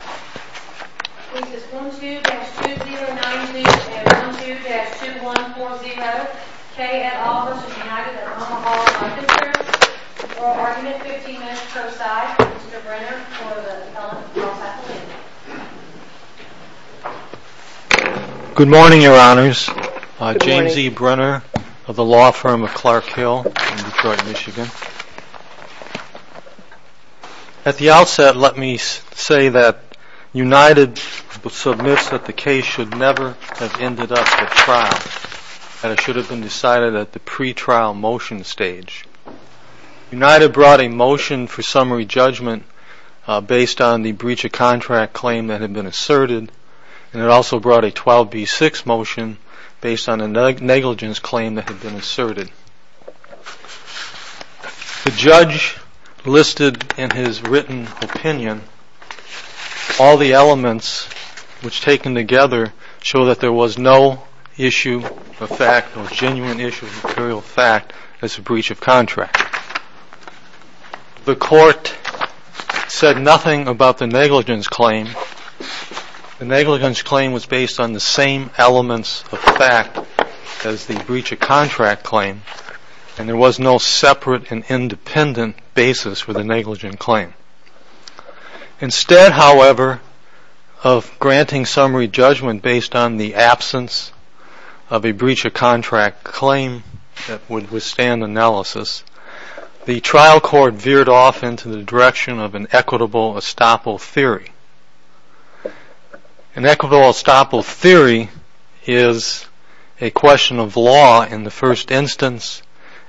This is 1-2-2-0-9-0 and 1-2-2-1-4-0. K. et al. v. United of Omaha Life Insurance. For argument 15 minutes per side. Mr. Brenner for the telephone. Good morning, your honors. James E. Brenner of the law firm of Clark Hill in Detroit, Michigan. At the outset, let me say that United submits that the case should never have ended up at trial. And it should have been decided at the pre-trial motion stage. United brought a motion for summary judgment based on the breach of contract claim that had been asserted. And it also brought a 12B6 motion based on a negligence claim that had been asserted. The judge listed in his written opinion all the elements which, taken together, show that there was no issue of fact, no genuine issue of material fact, as a breach of contract. The court said nothing about the negligence claim. The negligence claim was based on the same elements of fact as the breach of contract claim. And there was no separate and independent basis for the negligent claim. Instead, however, of granting summary judgment based on the absence of a breach of contract claim that would withstand analysis, the trial court veered off into the direction of an equitable estoppel theory. An equitable estoppel theory is a question of law in the first instance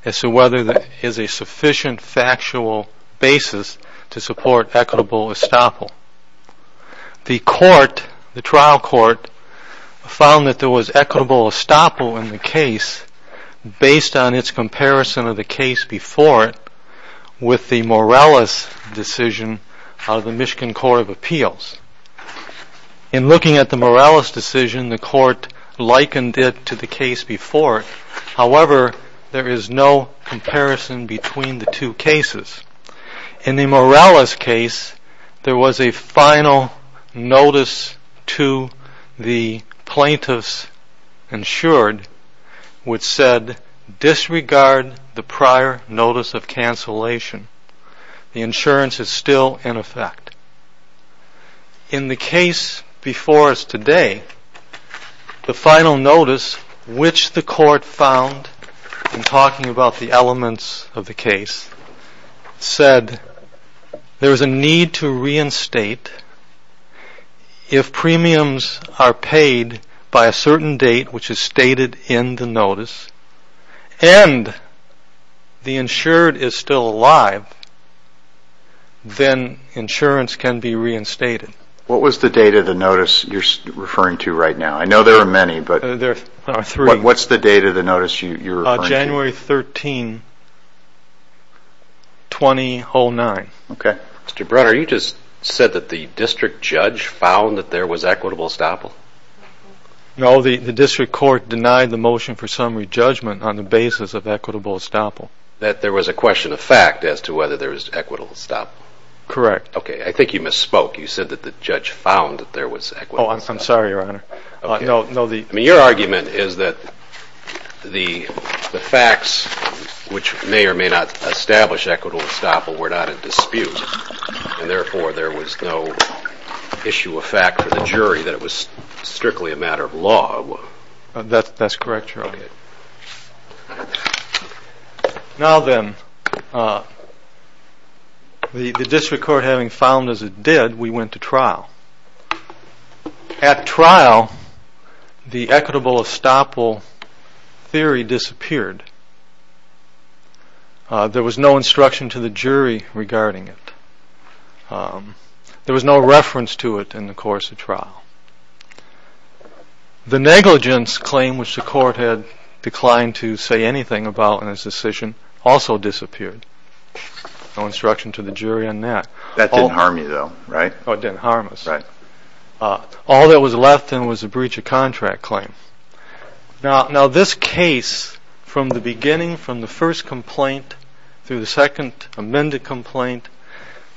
as to whether there is a sufficient factual basis to support equitable estoppel. The trial court found that there was equitable estoppel in the case based on its comparison of the case before it with the Morales decision of the Michigan Court of Appeals. In looking at the Morales decision, the court likened it to the case before it. However, there is no comparison between the two cases. In the Morales case, there was a final notice to the plaintiffs insured which said disregard the prior notice of cancellation. The insurance is still in effect. In the case before us today, the final notice, which the court found in talking about the elements of the case, said there is a need to reinstate if premiums are paid by a certain date, which is stated in the notice, and the insured is still alive, then insurance can be reinstated. What was the date of the notice you're referring to right now? I know there are many, but what's the date of the notice you're referring to? January 13, 2009. Okay. Mr. Brunner, you just said that the district judge found that there was equitable estoppel. No, the district court denied the motion for summary judgment on the basis of equitable estoppel. That there was a question of fact as to whether there was equitable estoppel? Correct. Okay, I think you misspoke. You said that the judge found that there was equitable estoppel. Oh, I'm sorry, Your Honor. I mean, your argument is that the facts which may or may not establish equitable estoppel were not in dispute, and therefore there was no issue of fact for the jury that it was strictly a matter of law. That's correct, Your Honor. Now then, the district court having found as it did, we went to trial. At trial, the equitable estoppel theory disappeared. There was no instruction to the jury regarding it. There was no reference to it in the course of trial. The negligence claim, which the court had declined to say anything about in its decision, also disappeared. No instruction to the jury on that. That didn't harm you, though, right? Oh, it didn't harm us. Right. All that was left then was a breach of contract claim. Now, this case, from the beginning, from the first complaint, through the second amended complaint,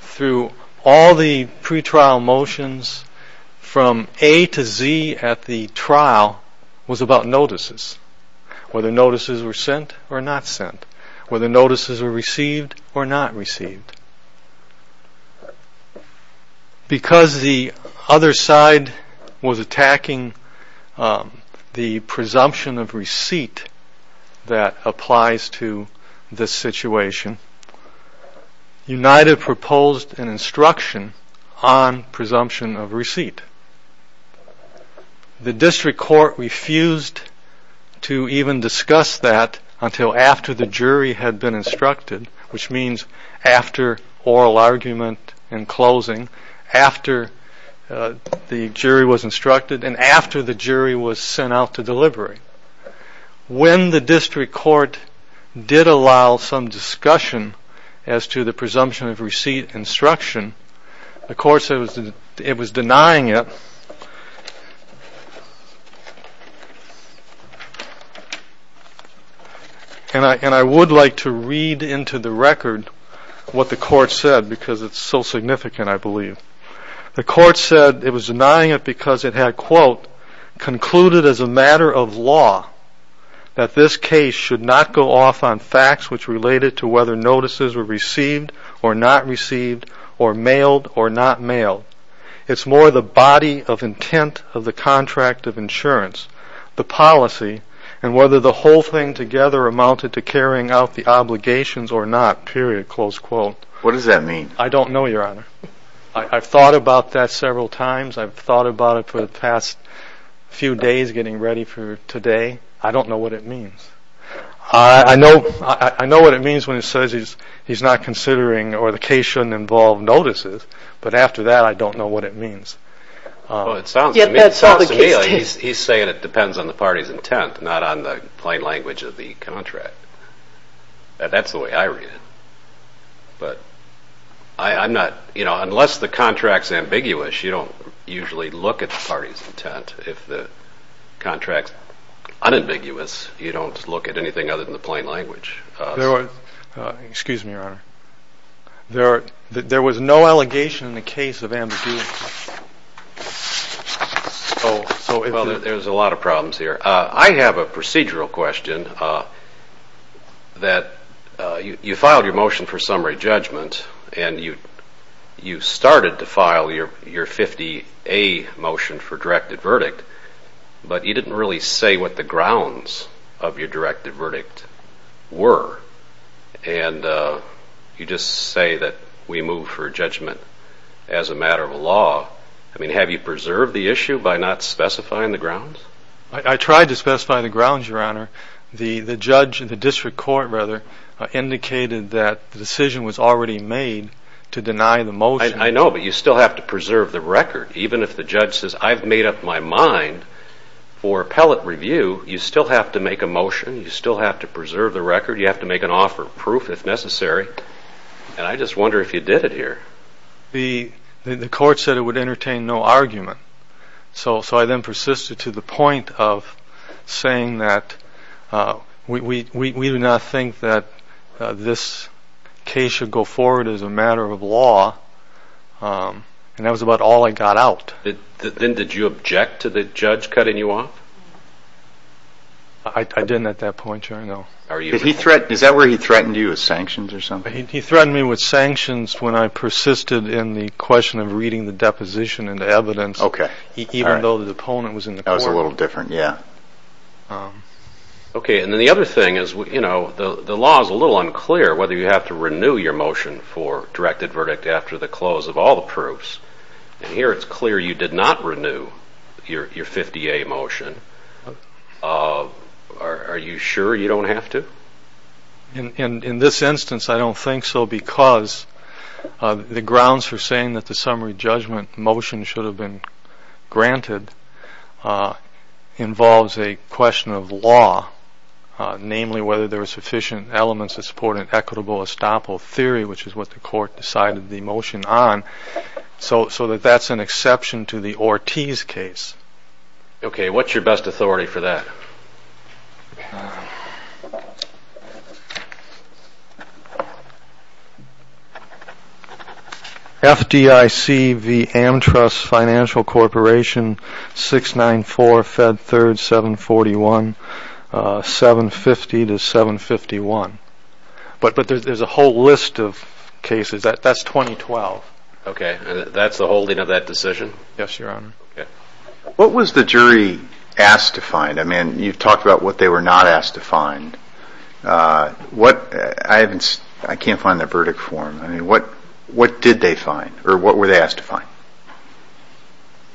through all the pretrial motions, from A to Z at the trial, was about notices, whether notices were sent or not sent, whether notices were received or not received. Because the other side was attacking the presumption of receipt that applies to this situation, United proposed an instruction on presumption of receipt. The district court refused to even discuss that until after the jury had been instructed, which means after oral argument and closing, after the jury was instructed, and after the jury was sent out to delivery. When the district court did allow some discussion as to the presumption of receipt instruction, the court said it was denying it. And I would like to read into the record what the court said because it's so significant, I believe. The court said it was denying it because it had, quote, concluded as a matter of law that this case should not go off on facts which related to whether notices were received or not received or mailed or not mailed. It's more the body of intent of the contract of insurance, the policy, and whether the whole thing together amounted to carrying out the obligations or not, period, close quote. What does that mean? I don't know, Your Honor. I've thought about that several times. I've thought about it for the past few days getting ready for today. I don't know what it means. I know what it means when it says he's not considering or the case shouldn't involve notices, but after that I don't know what it means. Well, it sounds to me like he's saying it depends on the party's intent, not on the plain language of the contract. That's the way I read it. But I'm not, you know, unless the contract's ambiguous, you don't usually look at the party's intent. If the contract's unambiguous, you don't look at anything other than the plain language. Excuse me, Your Honor. There was no allegation in the case of ambiguity. Well, there's a lot of problems here. I have a procedural question that you filed your motion for summary judgment and you started to file your 50A motion for directed verdict, but you didn't really say what the grounds of your directed verdict were, and you just say that we move for judgment as a matter of law. I mean, have you preserved the issue by not specifying the grounds? I tried to specify the grounds, Your Honor. The judge in the district court, rather, indicated that the decision was already made to deny the motion. I know, but you still have to preserve the record. Even if the judge says, I've made up my mind for appellate review, you still have to make a motion. You still have to preserve the record. You have to make an offer of proof if necessary, and I just wonder if you did it here. The court said it would entertain no argument, so I then persisted to the point of saying that we do not think that this case should go forward as a matter of law, and that was about all I got out. Then did you object to the judge cutting you off? I didn't at that point, Your Honor, no. Is that where he threatened you with sanctions or something? He threatened me with sanctions when I persisted in the question of reading the deposition and the evidence, even though the opponent was in the court. That was a little different, yeah. Okay, and then the other thing is, you know, the law is a little unclear whether you have to renew your motion for directed verdict after the close of all the proofs, and here it's clear you did not renew your 50A motion. Are you sure you don't have to? In this instance, I don't think so, because the grounds for saying that the summary judgment motion should have been granted involves a question of law, namely whether there were sufficient elements to support an equitable estoppel theory, which is what the court decided the motion on, so that that's an exception to the Ortiz case. Okay, what's your best authority for that? FDIC v. Amtrust Financial Corporation, 694 Fed 3rd 741, 750 to 751. But there's a whole list of cases. That's 2012. Okay, and that's the holding of that decision? Yes, Your Honor. What was the jury asked to find? I mean, you've talked about what they were not asked to find. I can't find the verdict form. I mean, what did they find, or what were they asked to find?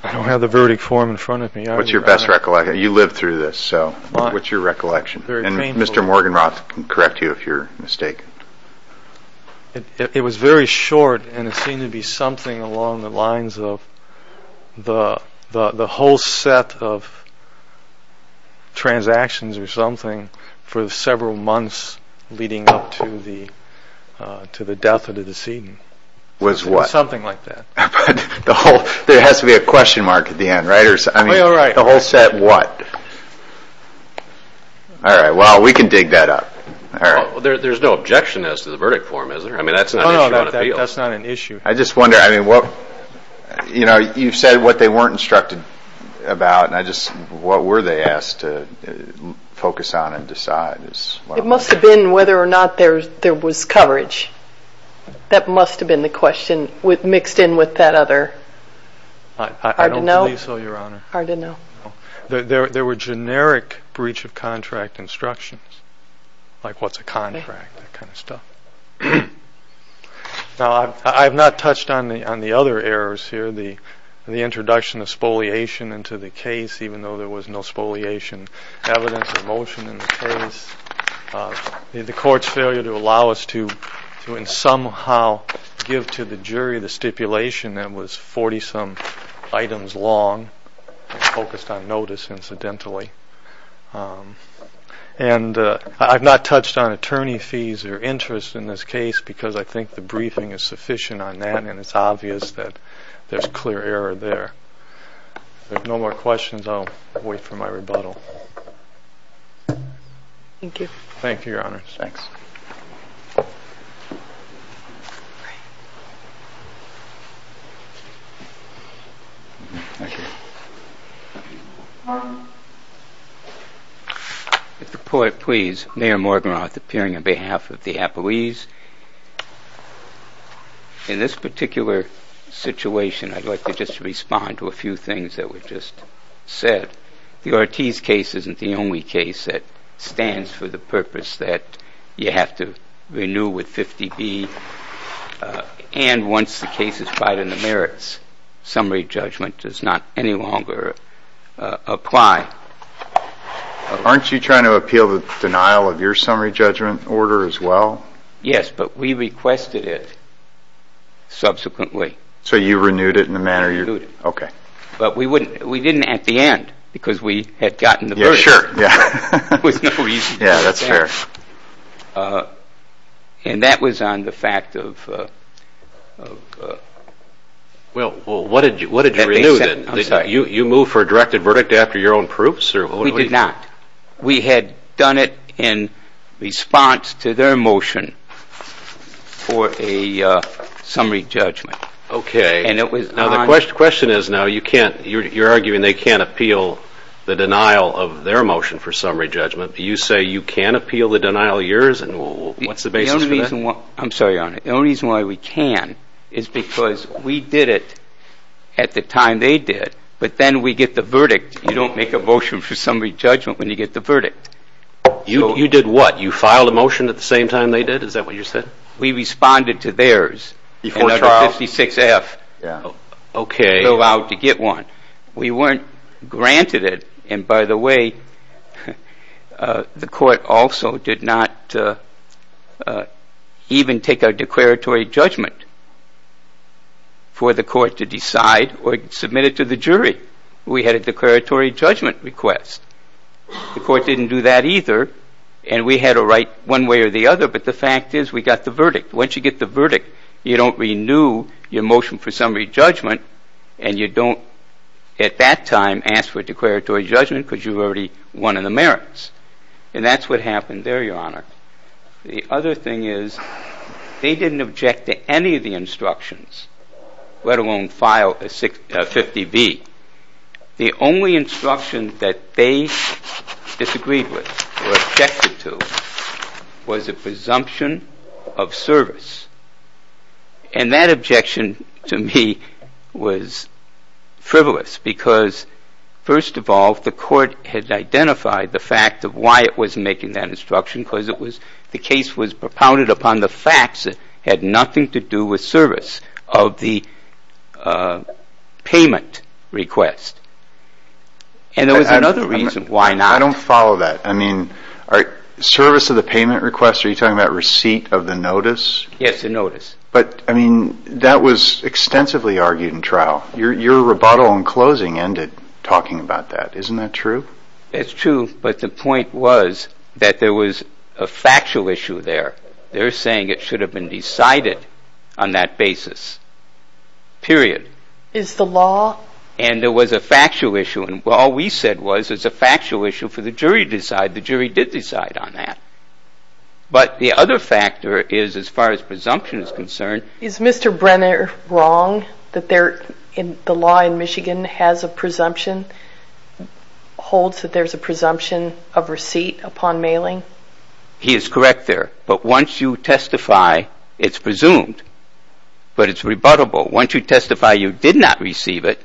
I don't have the verdict form in front of me. What's your best recollection? You lived through this, so what's your recollection? And Mr. Morganroth can correct you if you're mistaken. It was very short, and it seemed to be something along the lines of the whole set of transactions or something for several months leading up to the death of the decedent. Was what? Something like that. But there has to be a question mark at the end, right? I mean, the whole set what? All right, well, we can dig that up. All right. Well, there's no objection as to the verdict form, is there? I mean, that's not an issue on appeal. No, that's not an issue. I just wonder, I mean, what, you know, you said what they weren't instructed about, and I just, what were they asked to focus on and decide? It must have been whether or not there was coverage. That must have been the question mixed in with that other. I don't believe so, Your Honor. Hard to know. There were generic breach of contract instructions, like what's a contract, that kind of stuff. Now, I have not touched on the other errors here, the introduction of spoliation into the case, even though there was no spoliation evidence or motion in the case, the court's failure to allow us to somehow give to the jury the stipulation that was 40-some items long and focused on notice, incidentally. And I've not touched on attorney fees or interest in this case because I think the briefing is sufficient on that, and it's obvious that there's clear error there. If there's no more questions, I'll wait for my rebuttal. Thank you. Thank you, Your Honor. Thanks. If the court please, Mayor Morgenroth, appearing on behalf of the Apoese. In this particular situation, I'd like to just respond to a few things that were just said. The Ortiz case isn't the only case that stands for the purpose that, you have to renew with 50-B, and once the case is right in the merits, summary judgment does not any longer apply. Aren't you trying to appeal the denial of your summary judgment order as well? Yes, but we requested it subsequently. So you renewed it in the manner you – Renewed it. Okay. But we didn't at the end because we had gotten the verdict. Yeah, sure. Yeah, that's fair. And that was on the fact of – Well, what did you renew? I'm sorry. You moved for a directed verdict after your own proofs? We did not. We had done it in response to their motion for a summary judgment. Okay. And it was on – The question is now you can't – you're arguing they can't appeal the denial of their motion for summary judgment, but you say you can appeal the denial of yours, and what's the basis for that? I'm sorry, Your Honor. The only reason why we can is because we did it at the time they did, but then we get the verdict. You don't make a motion for summary judgment when you get the verdict. You did what? You filed a motion at the same time they did? Is that what you said? We responded to theirs. Before Charles? Under 56F. Okay. We were allowed to get one. We weren't granted it. And by the way, the court also did not even take a declaratory judgment for the court to decide or submit it to the jury. We had a declaratory judgment request. The court didn't do that either, and we had a right one way or the other, but the fact is we got the verdict. Once you get the verdict, you don't renew your motion for summary judgment, and you don't at that time ask for a declaratory judgment because you've already won in the merits, and that's what happened there, Your Honor. The other thing is they didn't object to any of the instructions, let alone file a 50B. The only instruction that they disagreed with or objected to was a presumption of service, and that objection to me was frivolous because, first of all, the court had identified the fact of why it was making that instruction because the case was propounded upon the facts that had nothing to do with service of the payment request. And there was another reason why not. I don't follow that. I mean, service of the payment request, are you talking about receipt of the notice? Yes, the notice. But, I mean, that was extensively argued in trial. Your rebuttal in closing ended talking about that. Isn't that true? It's true, but the point was that there was a factual issue there. They're saying it should have been decided on that basis, period. Is the law? And there was a factual issue, and all we said was it's a factual issue for the jury to decide. The jury did decide on that. But the other factor is, as far as presumption is concerned. Is Mr. Brenner wrong that the law in Michigan has a presumption, holds that there's a presumption of receipt upon mailing? He is correct there. But once you testify, it's presumed, but it's rebuttable. Once you testify you did not receive it,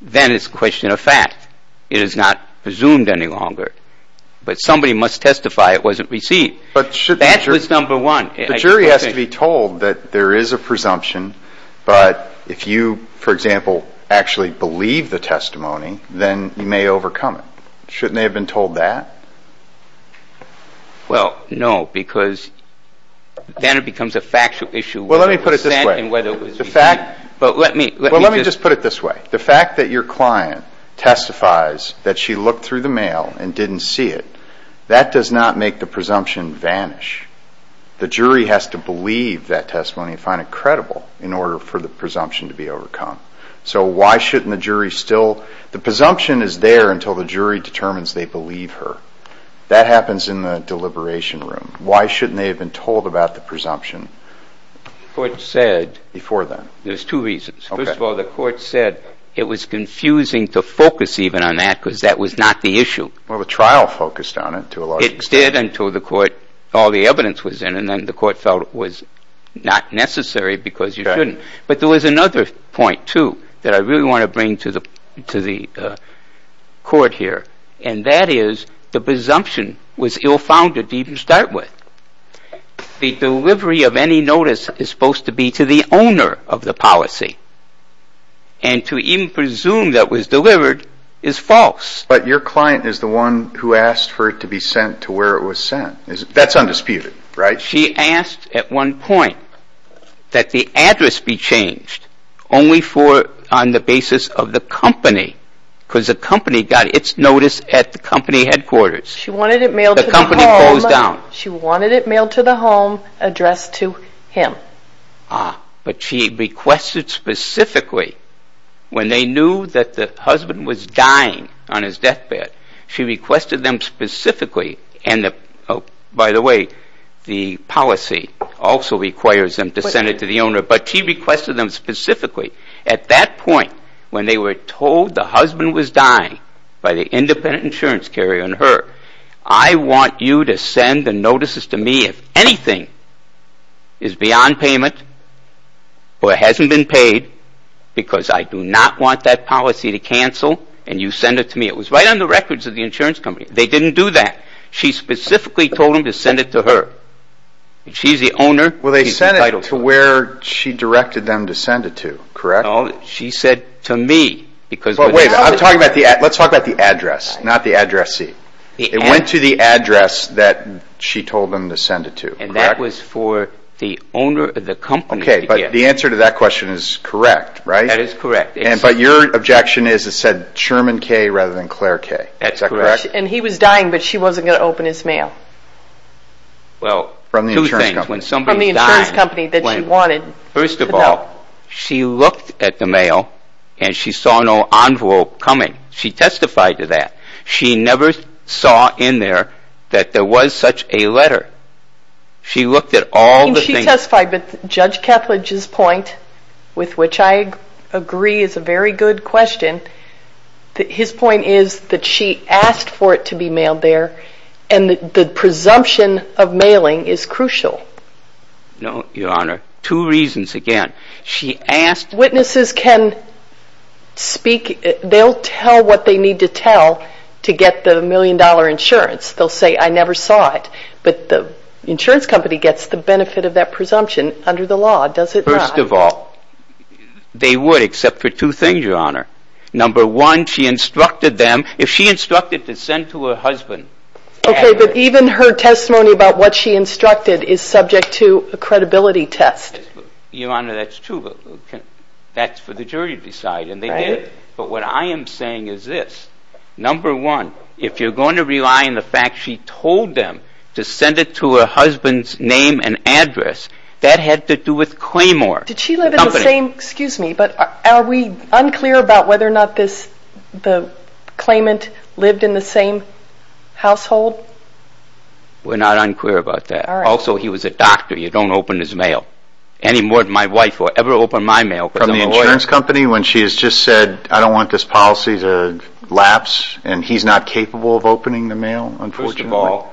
then it's a question of fact. It is not presumed any longer. But somebody must testify it wasn't received. That was number one. The jury has to be told that there is a presumption, but if you, for example, actually believe the testimony, then you may overcome it. Shouldn't they have been told that? Well, no, because then it becomes a factual issue. Well, let me put it this way. Well, let me just put it this way. The fact that your client testifies that she looked through the mail and didn't see it, that does not make the presumption vanish. The jury has to believe that testimony and find it credible in order for the presumption to be overcome. So why shouldn't the jury still? The presumption is there until the jury determines they believe her. That happens in the deliberation room. Why shouldn't they have been told about the presumption before then? There's two reasons. First of all, the court said it was confusing to focus even on that because that was not the issue. Well, the trial focused on it to a large extent. It stayed until the court, all the evidence was in, and then the court felt it was not necessary because you shouldn't. But there was another point, too, that I really want to bring to the court here, and that is the presumption was ill-founded to even start with. The delivery of any notice is supposed to be to the owner of the policy, and to even presume that was delivered is false. But your client is the one who asked for it to be sent to where it was sent. That's undisputed, right? She asked at one point that the address be changed only on the basis of the company because the company got its notice at the company headquarters. She wanted it mailed to the home. The company closed down. She wanted it mailed to the home, addressed to him. But she requested specifically when they knew that the husband was dying on his deathbed, she requested them specifically. And, by the way, the policy also requires them to send it to the owner, but she requested them specifically. At that point, when they were told the husband was dying by the independent insurance carrier and her, I want you to send the notices to me if anything is beyond payment or hasn't been paid because I do not want that policy to cancel, and you send it to me. It was right on the records of the insurance company. They didn't do that. She specifically told them to send it to her. She's the owner. Well, they sent it to where she directed them to send it to, correct? No, she said to me. Let's talk about the address, not the addressee. It went to the address that she told them to send it to, correct? And that was for the owner of the company. Okay, but the answer to that question is correct, right? That is correct. But your objection is it said Sherman K. rather than Claire K., is that correct? That's correct. And he was dying, but she wasn't going to open his mail. Well, two things. From the insurance company. First of all, she looked at the mail, and she saw no envelope coming. She testified to that. She never saw in there that there was such a letter. She looked at all the things. She testified, but Judge Ketledge's point, with which I agree is a very good question, his point is that she asked for it to be mailed there, and the presumption of mailing is crucial. No, Your Honor. Two reasons. Again, she asked. Witnesses can speak. They'll tell what they need to tell to get the million-dollar insurance. They'll say, I never saw it. But the insurance company gets the benefit of that presumption under the law, does it not? First of all, they would, except for two things, Your Honor. Number one, she instructed them. If she instructed to send to her husband. Okay, but even her testimony about what she instructed is subject to a credibility test. Your Honor, that's true. That's for the jury to decide, and they did. But what I am saying is this. Number one, if you're going to rely on the fact she told them to send it to her husband's name and address, that had to do with Claymore Company. Excuse me, but are we unclear about whether or not the claimant lived in the same household? We're not unclear about that. Also, he was a doctor. You don't open his mail. Any more than my wife will ever open my mail because I'm a lawyer. From the insurance company when she has just said, I don't want this policy to lapse, and he's not capable of opening the mail, unfortunately? First of all,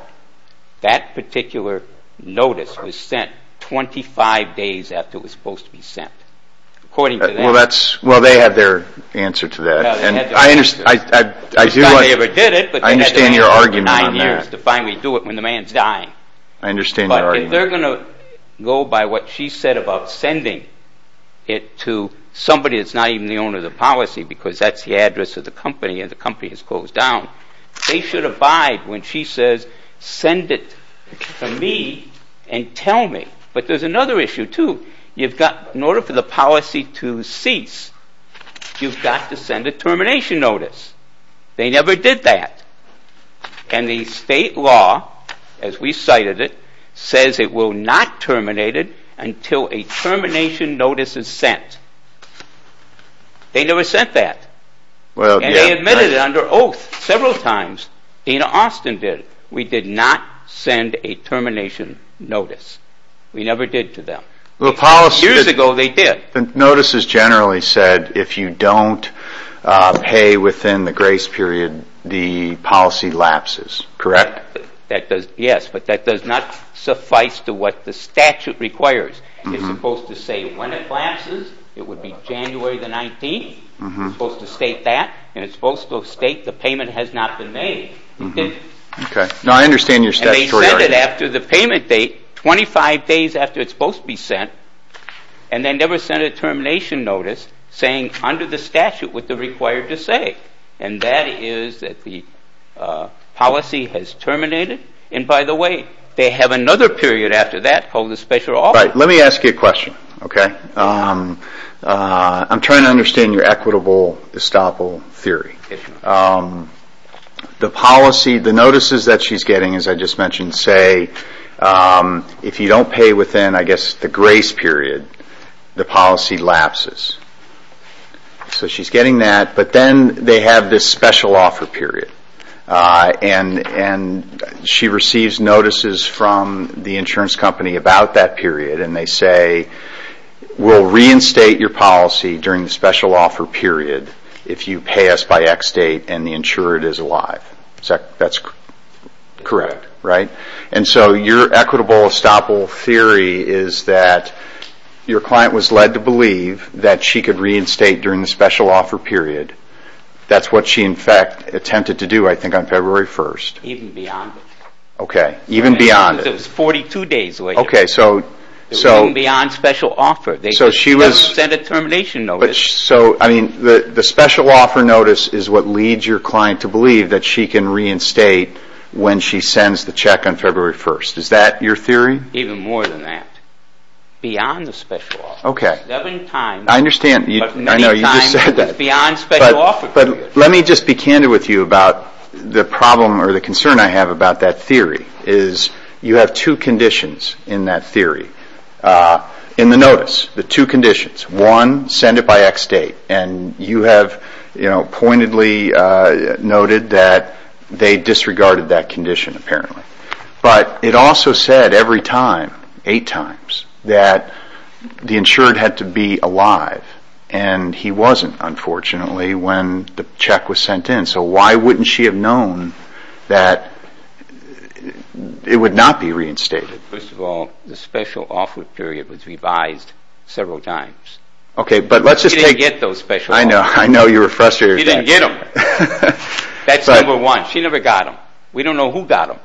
that particular notice was sent 25 days after it was supposed to be sent. Well, they have their answer to that. I understand your argument on that. To finally do it when the man's dying. I understand your argument. But if they're going to go by what she said about sending it to somebody that's not even the owner of the policy because that's the address of the company and the company is closed down, they should abide when she says send it to me and tell me. But there's another issue, too. In order for the policy to cease, you've got to send a termination notice. They never did that. And the state law, as we cited it, says it will not terminate it until a termination notice is sent. They never sent that. And they admitted it under oath several times. Dana Austin did. We did not send a termination notice. We never did to them. Years ago, they did. Notices generally said if you don't pay within the grace period, the policy lapses, correct? Yes, but that does not suffice to what the statute requires. It's supposed to say when it lapses. It would be January the 19th. It's supposed to state that. And it's supposed to state the payment has not been made. Okay. Now, I understand your statutory argument. And they sent it after the payment date, 25 days after it's supposed to be sent, and they never sent a termination notice saying under the statute what they're required to say, and that is that the policy has terminated. And by the way, they have another period after that called the special offer. Let me ask you a question, okay? I'm trying to understand your equitable estoppel theory. The policy, the notices that she's getting, as I just mentioned, say if you don't pay within, I guess, the grace period, the policy lapses. So she's getting that, but then they have this special offer period. And she receives notices from the insurance company about that period, and they say we'll reinstate your policy during the special offer period if you pay us by X date and the insurer is alive. That's correct, right? And so your equitable estoppel theory is that your client was led to believe that she could reinstate during the special offer period. That's what she, in fact, attempted to do. I think on February 1st. Even beyond it. Okay. Even beyond it. It was 42 days later. Okay, so. Even beyond special offer. So she was. They never sent a termination notice. So, I mean, the special offer notice is what leads your client to believe that she can reinstate when she sends the check on February 1st. Is that your theory? Even more than that. Beyond the special offer. Okay. Seven times. I understand. But many times. I know, you just said that. Beyond special offer period. But let me just be candid with you about the problem or the concern I have about that theory is you have two conditions in that theory. In the notice, the two conditions. One, send it by X date. And you have, you know, pointedly noted that they disregarded that condition apparently. But it also said every time, eight times, that the insured had to be alive. And he wasn't, unfortunately, when the check was sent in. So why wouldn't she have known that it would not be reinstated? First of all, the special offer period was revised several times. Okay. But let's just take. She didn't get those special offers. I know. I know you were frustrated. She didn't get them. That's number one. She never got them. We don't know who got them.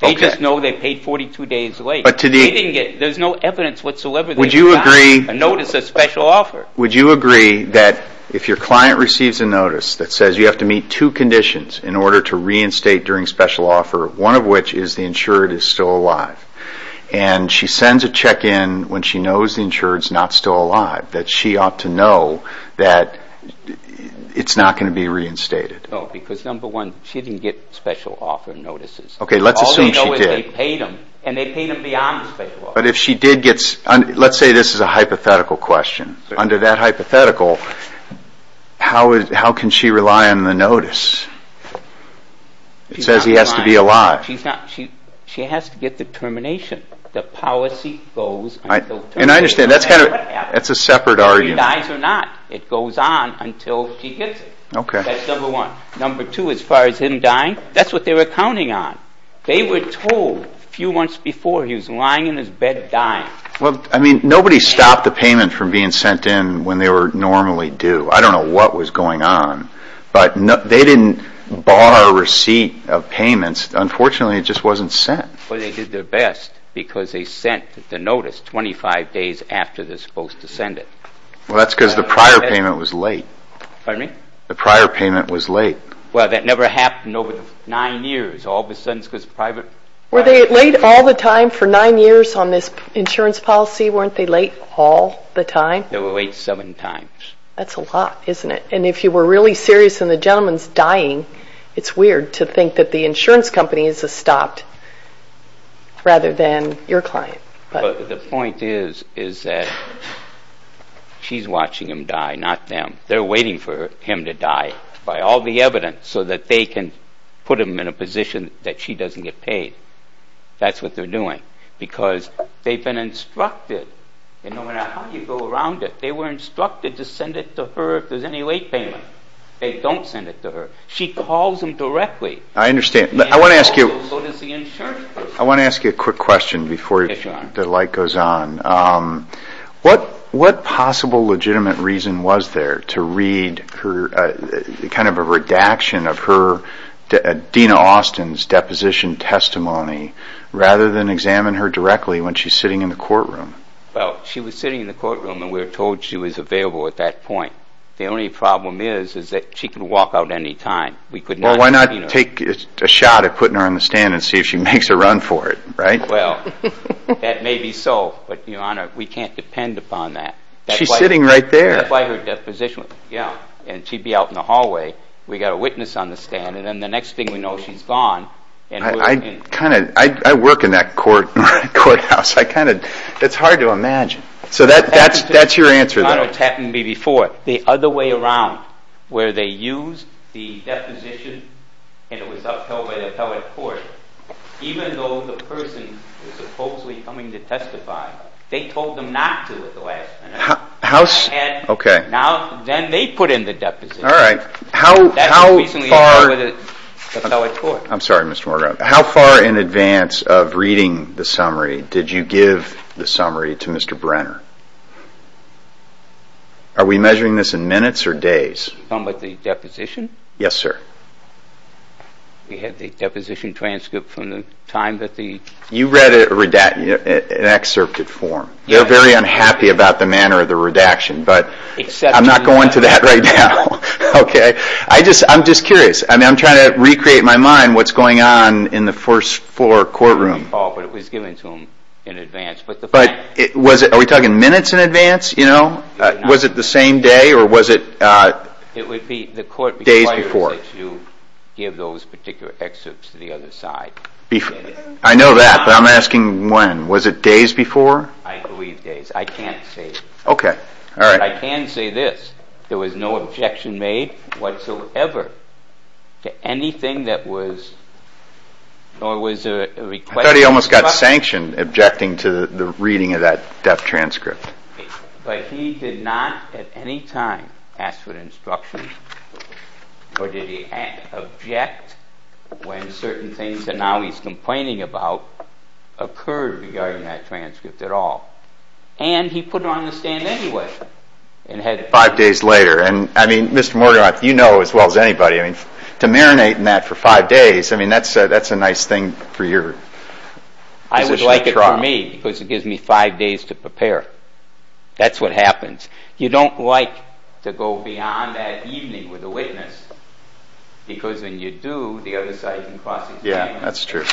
They just know they paid 42 days late. But to the. They didn't get. There's no evidence whatsoever. Would you agree. A notice of special offer. Would you agree that if your client receives a notice that says you have to meet two conditions in order to reinstate during special offer. One of which is the insured is still alive. And she sends a check in when she knows the insured is not still alive. That she ought to know that it's not going to be reinstated. No. Because number one, she didn't get special offer notices. Okay. Let's assume she did. All they know is they paid them. And they paid them beyond the special offer. But if she did get. Let's say this is a hypothetical question. Under that hypothetical. How can she rely on the notice. It says he has to be alive. She has to get the termination. The policy goes. And I understand. That's a separate argument. She dies or not. It goes on until she gets it. Okay. That's number one. Number two. As far as him dying. That's what they were counting on. They were told a few months before he was lying in his bed dying. Well, I mean, nobody stopped the payment from being sent in when they were normally due. I don't know what was going on. But they didn't bar a receipt of payments. Unfortunately, it just wasn't sent. But they did their best. Because they sent the notice 25 days after they're supposed to send it. Well, that's because the prior payment was late. Pardon me? The prior payment was late. Well, that never happened over nine years. Were they late all the time for nine years on this insurance policy? Weren't they late all the time? They were late seven times. That's a lot, isn't it? And if you were really serious and the gentleman's dying, it's weird to think that the insurance company has stopped rather than your client. But the point is that she's watching him die, not them. They're waiting for him to die by all the evidence so that they can put him in a position that she doesn't get paid. That's what they're doing because they've been instructed. And no matter how you go around it, they were instructed to send it to her if there's any late payment. They don't send it to her. She calls them directly. I understand. I want to ask you a quick question before the light goes on. What possible legitimate reason was there to read kind of a redaction of Dena Austin's deposition testimony rather than examine her directly when she's sitting in the courtroom? Well, she was sitting in the courtroom and we were told she was available at that point. The only problem is that she can walk out any time. Why not take a shot at putting her on the stand and see if she makes a run for it, right? Well, that may be so, but, Your Honor, we can't depend upon that. She's sitting right there. That's why her deposition, yeah, and she'd be out in the hallway. We've got a witness on the stand, and then the next thing we know she's gone. I work in that courthouse. It's hard to imagine. So that's your answer, then. It's happened to me before. The other way around where they used the deposition and it was upheld by the appellate court, even though the person was supposedly coming to testify, they told them not to at the last minute. Okay. Then they put in the deposition. All right. That was recently held by the appellate court. I'm sorry, Mr. Morgan. How far in advance of reading the summary did you give the summary to Mr. Brenner? Are we measuring this in minutes or days? You're talking about the deposition? Yes, sir. We had the deposition transcript from the time that the- You read an excerpt in form. They're very unhappy about the manner of the redaction, but I'm not going to that right now. Okay. I'm just curious. I'm trying to recreate in my mind what's going on in the first four courtrooms. But it was given to them in advance. Are we talking minutes in advance? Was it the same day or was it- It would be- Days before. The court requires that you give those particular excerpts to the other side. I know that, but I'm asking when. Was it days before? I believe days. I can't say. Okay. All right. I can say this. There was no objection made whatsoever to anything that was- I thought he almost got sanctioned objecting to the reading of that transcript. But he did not at any time ask for instructions or did he object when certain things that now he's complaining about occurred regarding that transcript at all. And he put it on the stand anyway and had- Five days later. And, I mean, Mr. Morgan, you know as well as anybody, to marinate in that for five days, I mean, that's a nice thing for your- I would like it for me because it gives me five days to prepare. That's what happens. You don't like to go beyond that evening with a witness because when you do, the other side can cross- Yeah, that's true.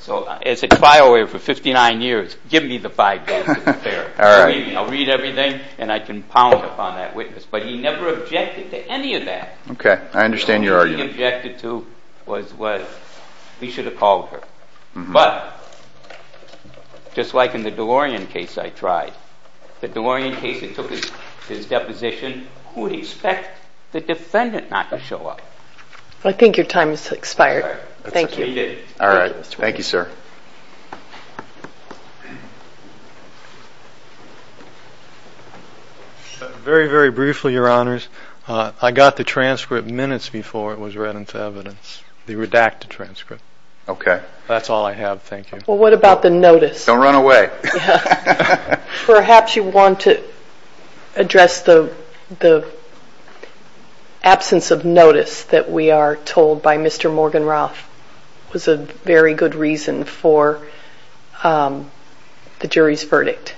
So as a trial lawyer for 59 years, give me the five days to prepare. I'll read everything and I can pound upon that witness. But he never objected to any of that. Okay. I understand your argument. What he objected to was he should have called her. But just like in the DeLorean case I tried, the DeLorean case that took his deposition, who would expect the defendant not to show up? I think your time has expired. Thank you. All right. Thank you, sir. Very, very briefly, Your Honors. I got the transcript minutes before it was read into evidence, the redacted transcript. Okay. That's all I have. Thank you. Well, what about the notice? Don't run away. Perhaps you want to address the absence of notice that we are told by Mr. Morgan Roth was a very good reason for the jury's verdict,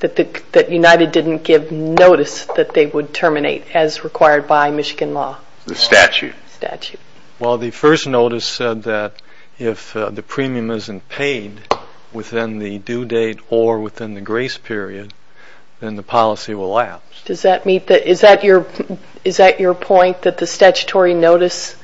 that United didn't give notice that they would terminate as required by Michigan law. The statute. The statute. Well, the first notice said that if the premium isn't paid within the due date or within the grace period, then the policy will lapse. Is that your point, that the statutory notice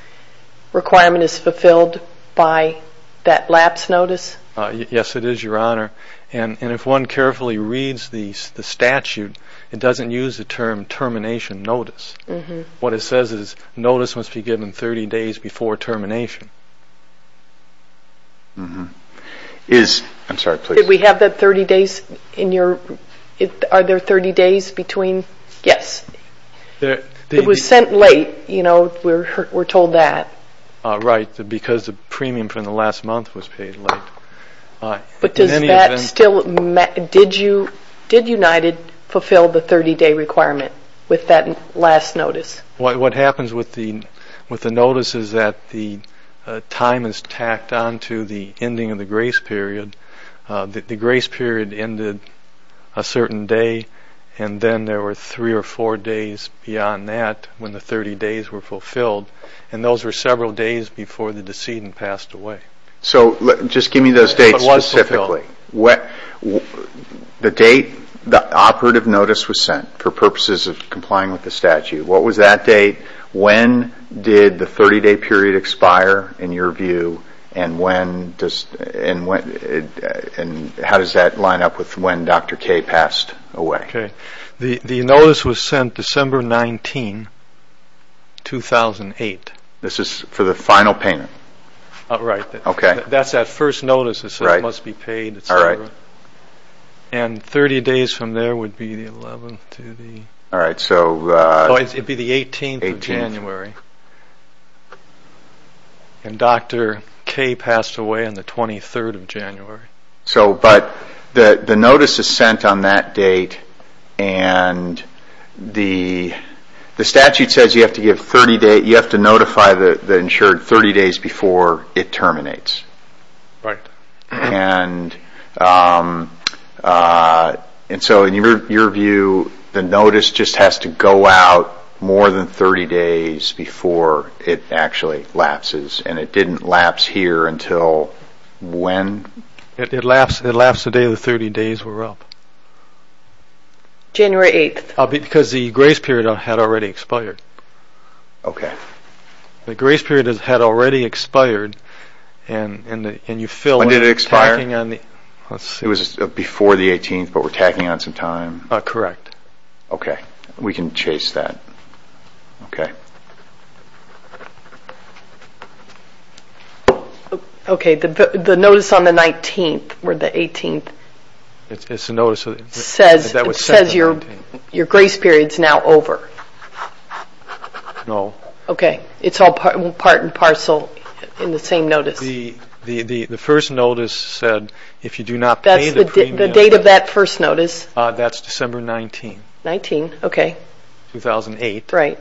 requirement is fulfilled by that lapse notice? Yes, it is, Your Honor. And if one carefully reads the statute, it doesn't use the term termination notice. What it says is notice must be given 30 days before termination. I'm sorry, please. Did we have that 30 days? Are there 30 days between? Yes. It was sent late, you know, we're told that. Right, because the premium from the last month was paid late. But does that still matter? Did United fulfill the 30-day requirement with that last notice? What happens with the notice is that the time is tacked onto the ending of the grace period. The grace period ended a certain day, and then there were three or four days beyond that when the 30 days were fulfilled, and those were several days before the decedent passed away. So just give me those dates specifically. The date the operative notice was sent for purposes of complying with the statute, what was that date, when did the 30-day period expire in your view, and how does that line up with when Dr. Kay passed away? The notice was sent December 19, 2008. This is for the final payment? Right. Okay. That's that first notice that says must be paid, et cetera. And 30 days from there would be the 11th to the 18th of January. And Dr. Kay passed away on the 23rd of January. But the notice is sent on that date, and the statute says you have to notify the insured 30 days before it terminates. Right. And so in your view, the notice just has to go out more than 30 days before it actually lapses, and it didn't lapse here until when? It lapsed the day the 30 days were up. January 8th. Because the grace period had already expired. Okay. The grace period had already expired, and you feel like we're tacking on the… When did it expire? Let's see. It was before the 18th, but we're tacking on some time. Correct. Okay. We can chase that. Okay. Okay. The notice on the 19th or the 18th says your grace period is now over. No. Okay. It's all part and parcel in the same notice. The first notice said if you do not pay the premium… That's the date of that first notice. That's December 19th. 19th. Okay. 2008. Right.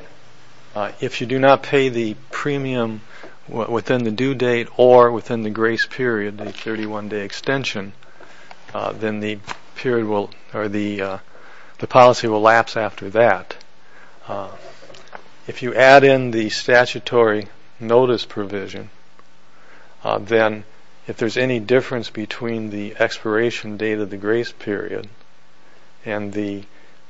If you do not pay the premium within the due date or within the grace period, the 31-day extension, then the policy will lapse after that. If you add in the statutory notice provision, then if there's any difference between the expiration date of the grace period and the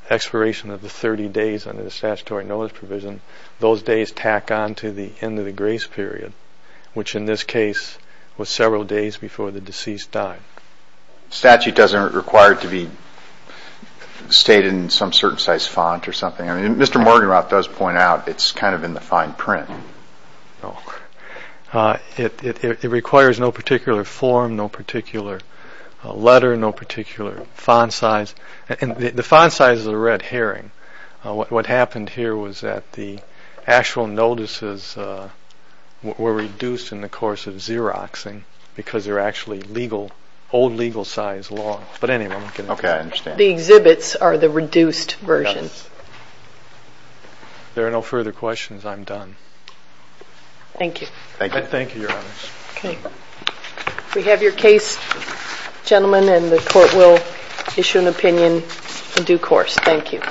expiration of the 30 days under the statutory notice provision, those days tack on to the end of the grace period, which in this case was several days before the deceased died. Statute doesn't require it to be stated in some certain size font or something. I mean, Mr. Morgenroth does point out it's kind of in the fine print. No. It requires no particular form, no particular letter, no particular font size. The font size is a red herring. What happened here was that the actual notices were reduced in the course of Xeroxing because they're actually old legal size law. But anyway, I'm not going to get into that. Okay, I understand. The exhibits are the reduced version. Yes. If there are no further questions, I'm done. Thank you. Thank you, Your Honors. Okay. We have your case, gentlemen, and the court will issue an opinion in due course. Thank you.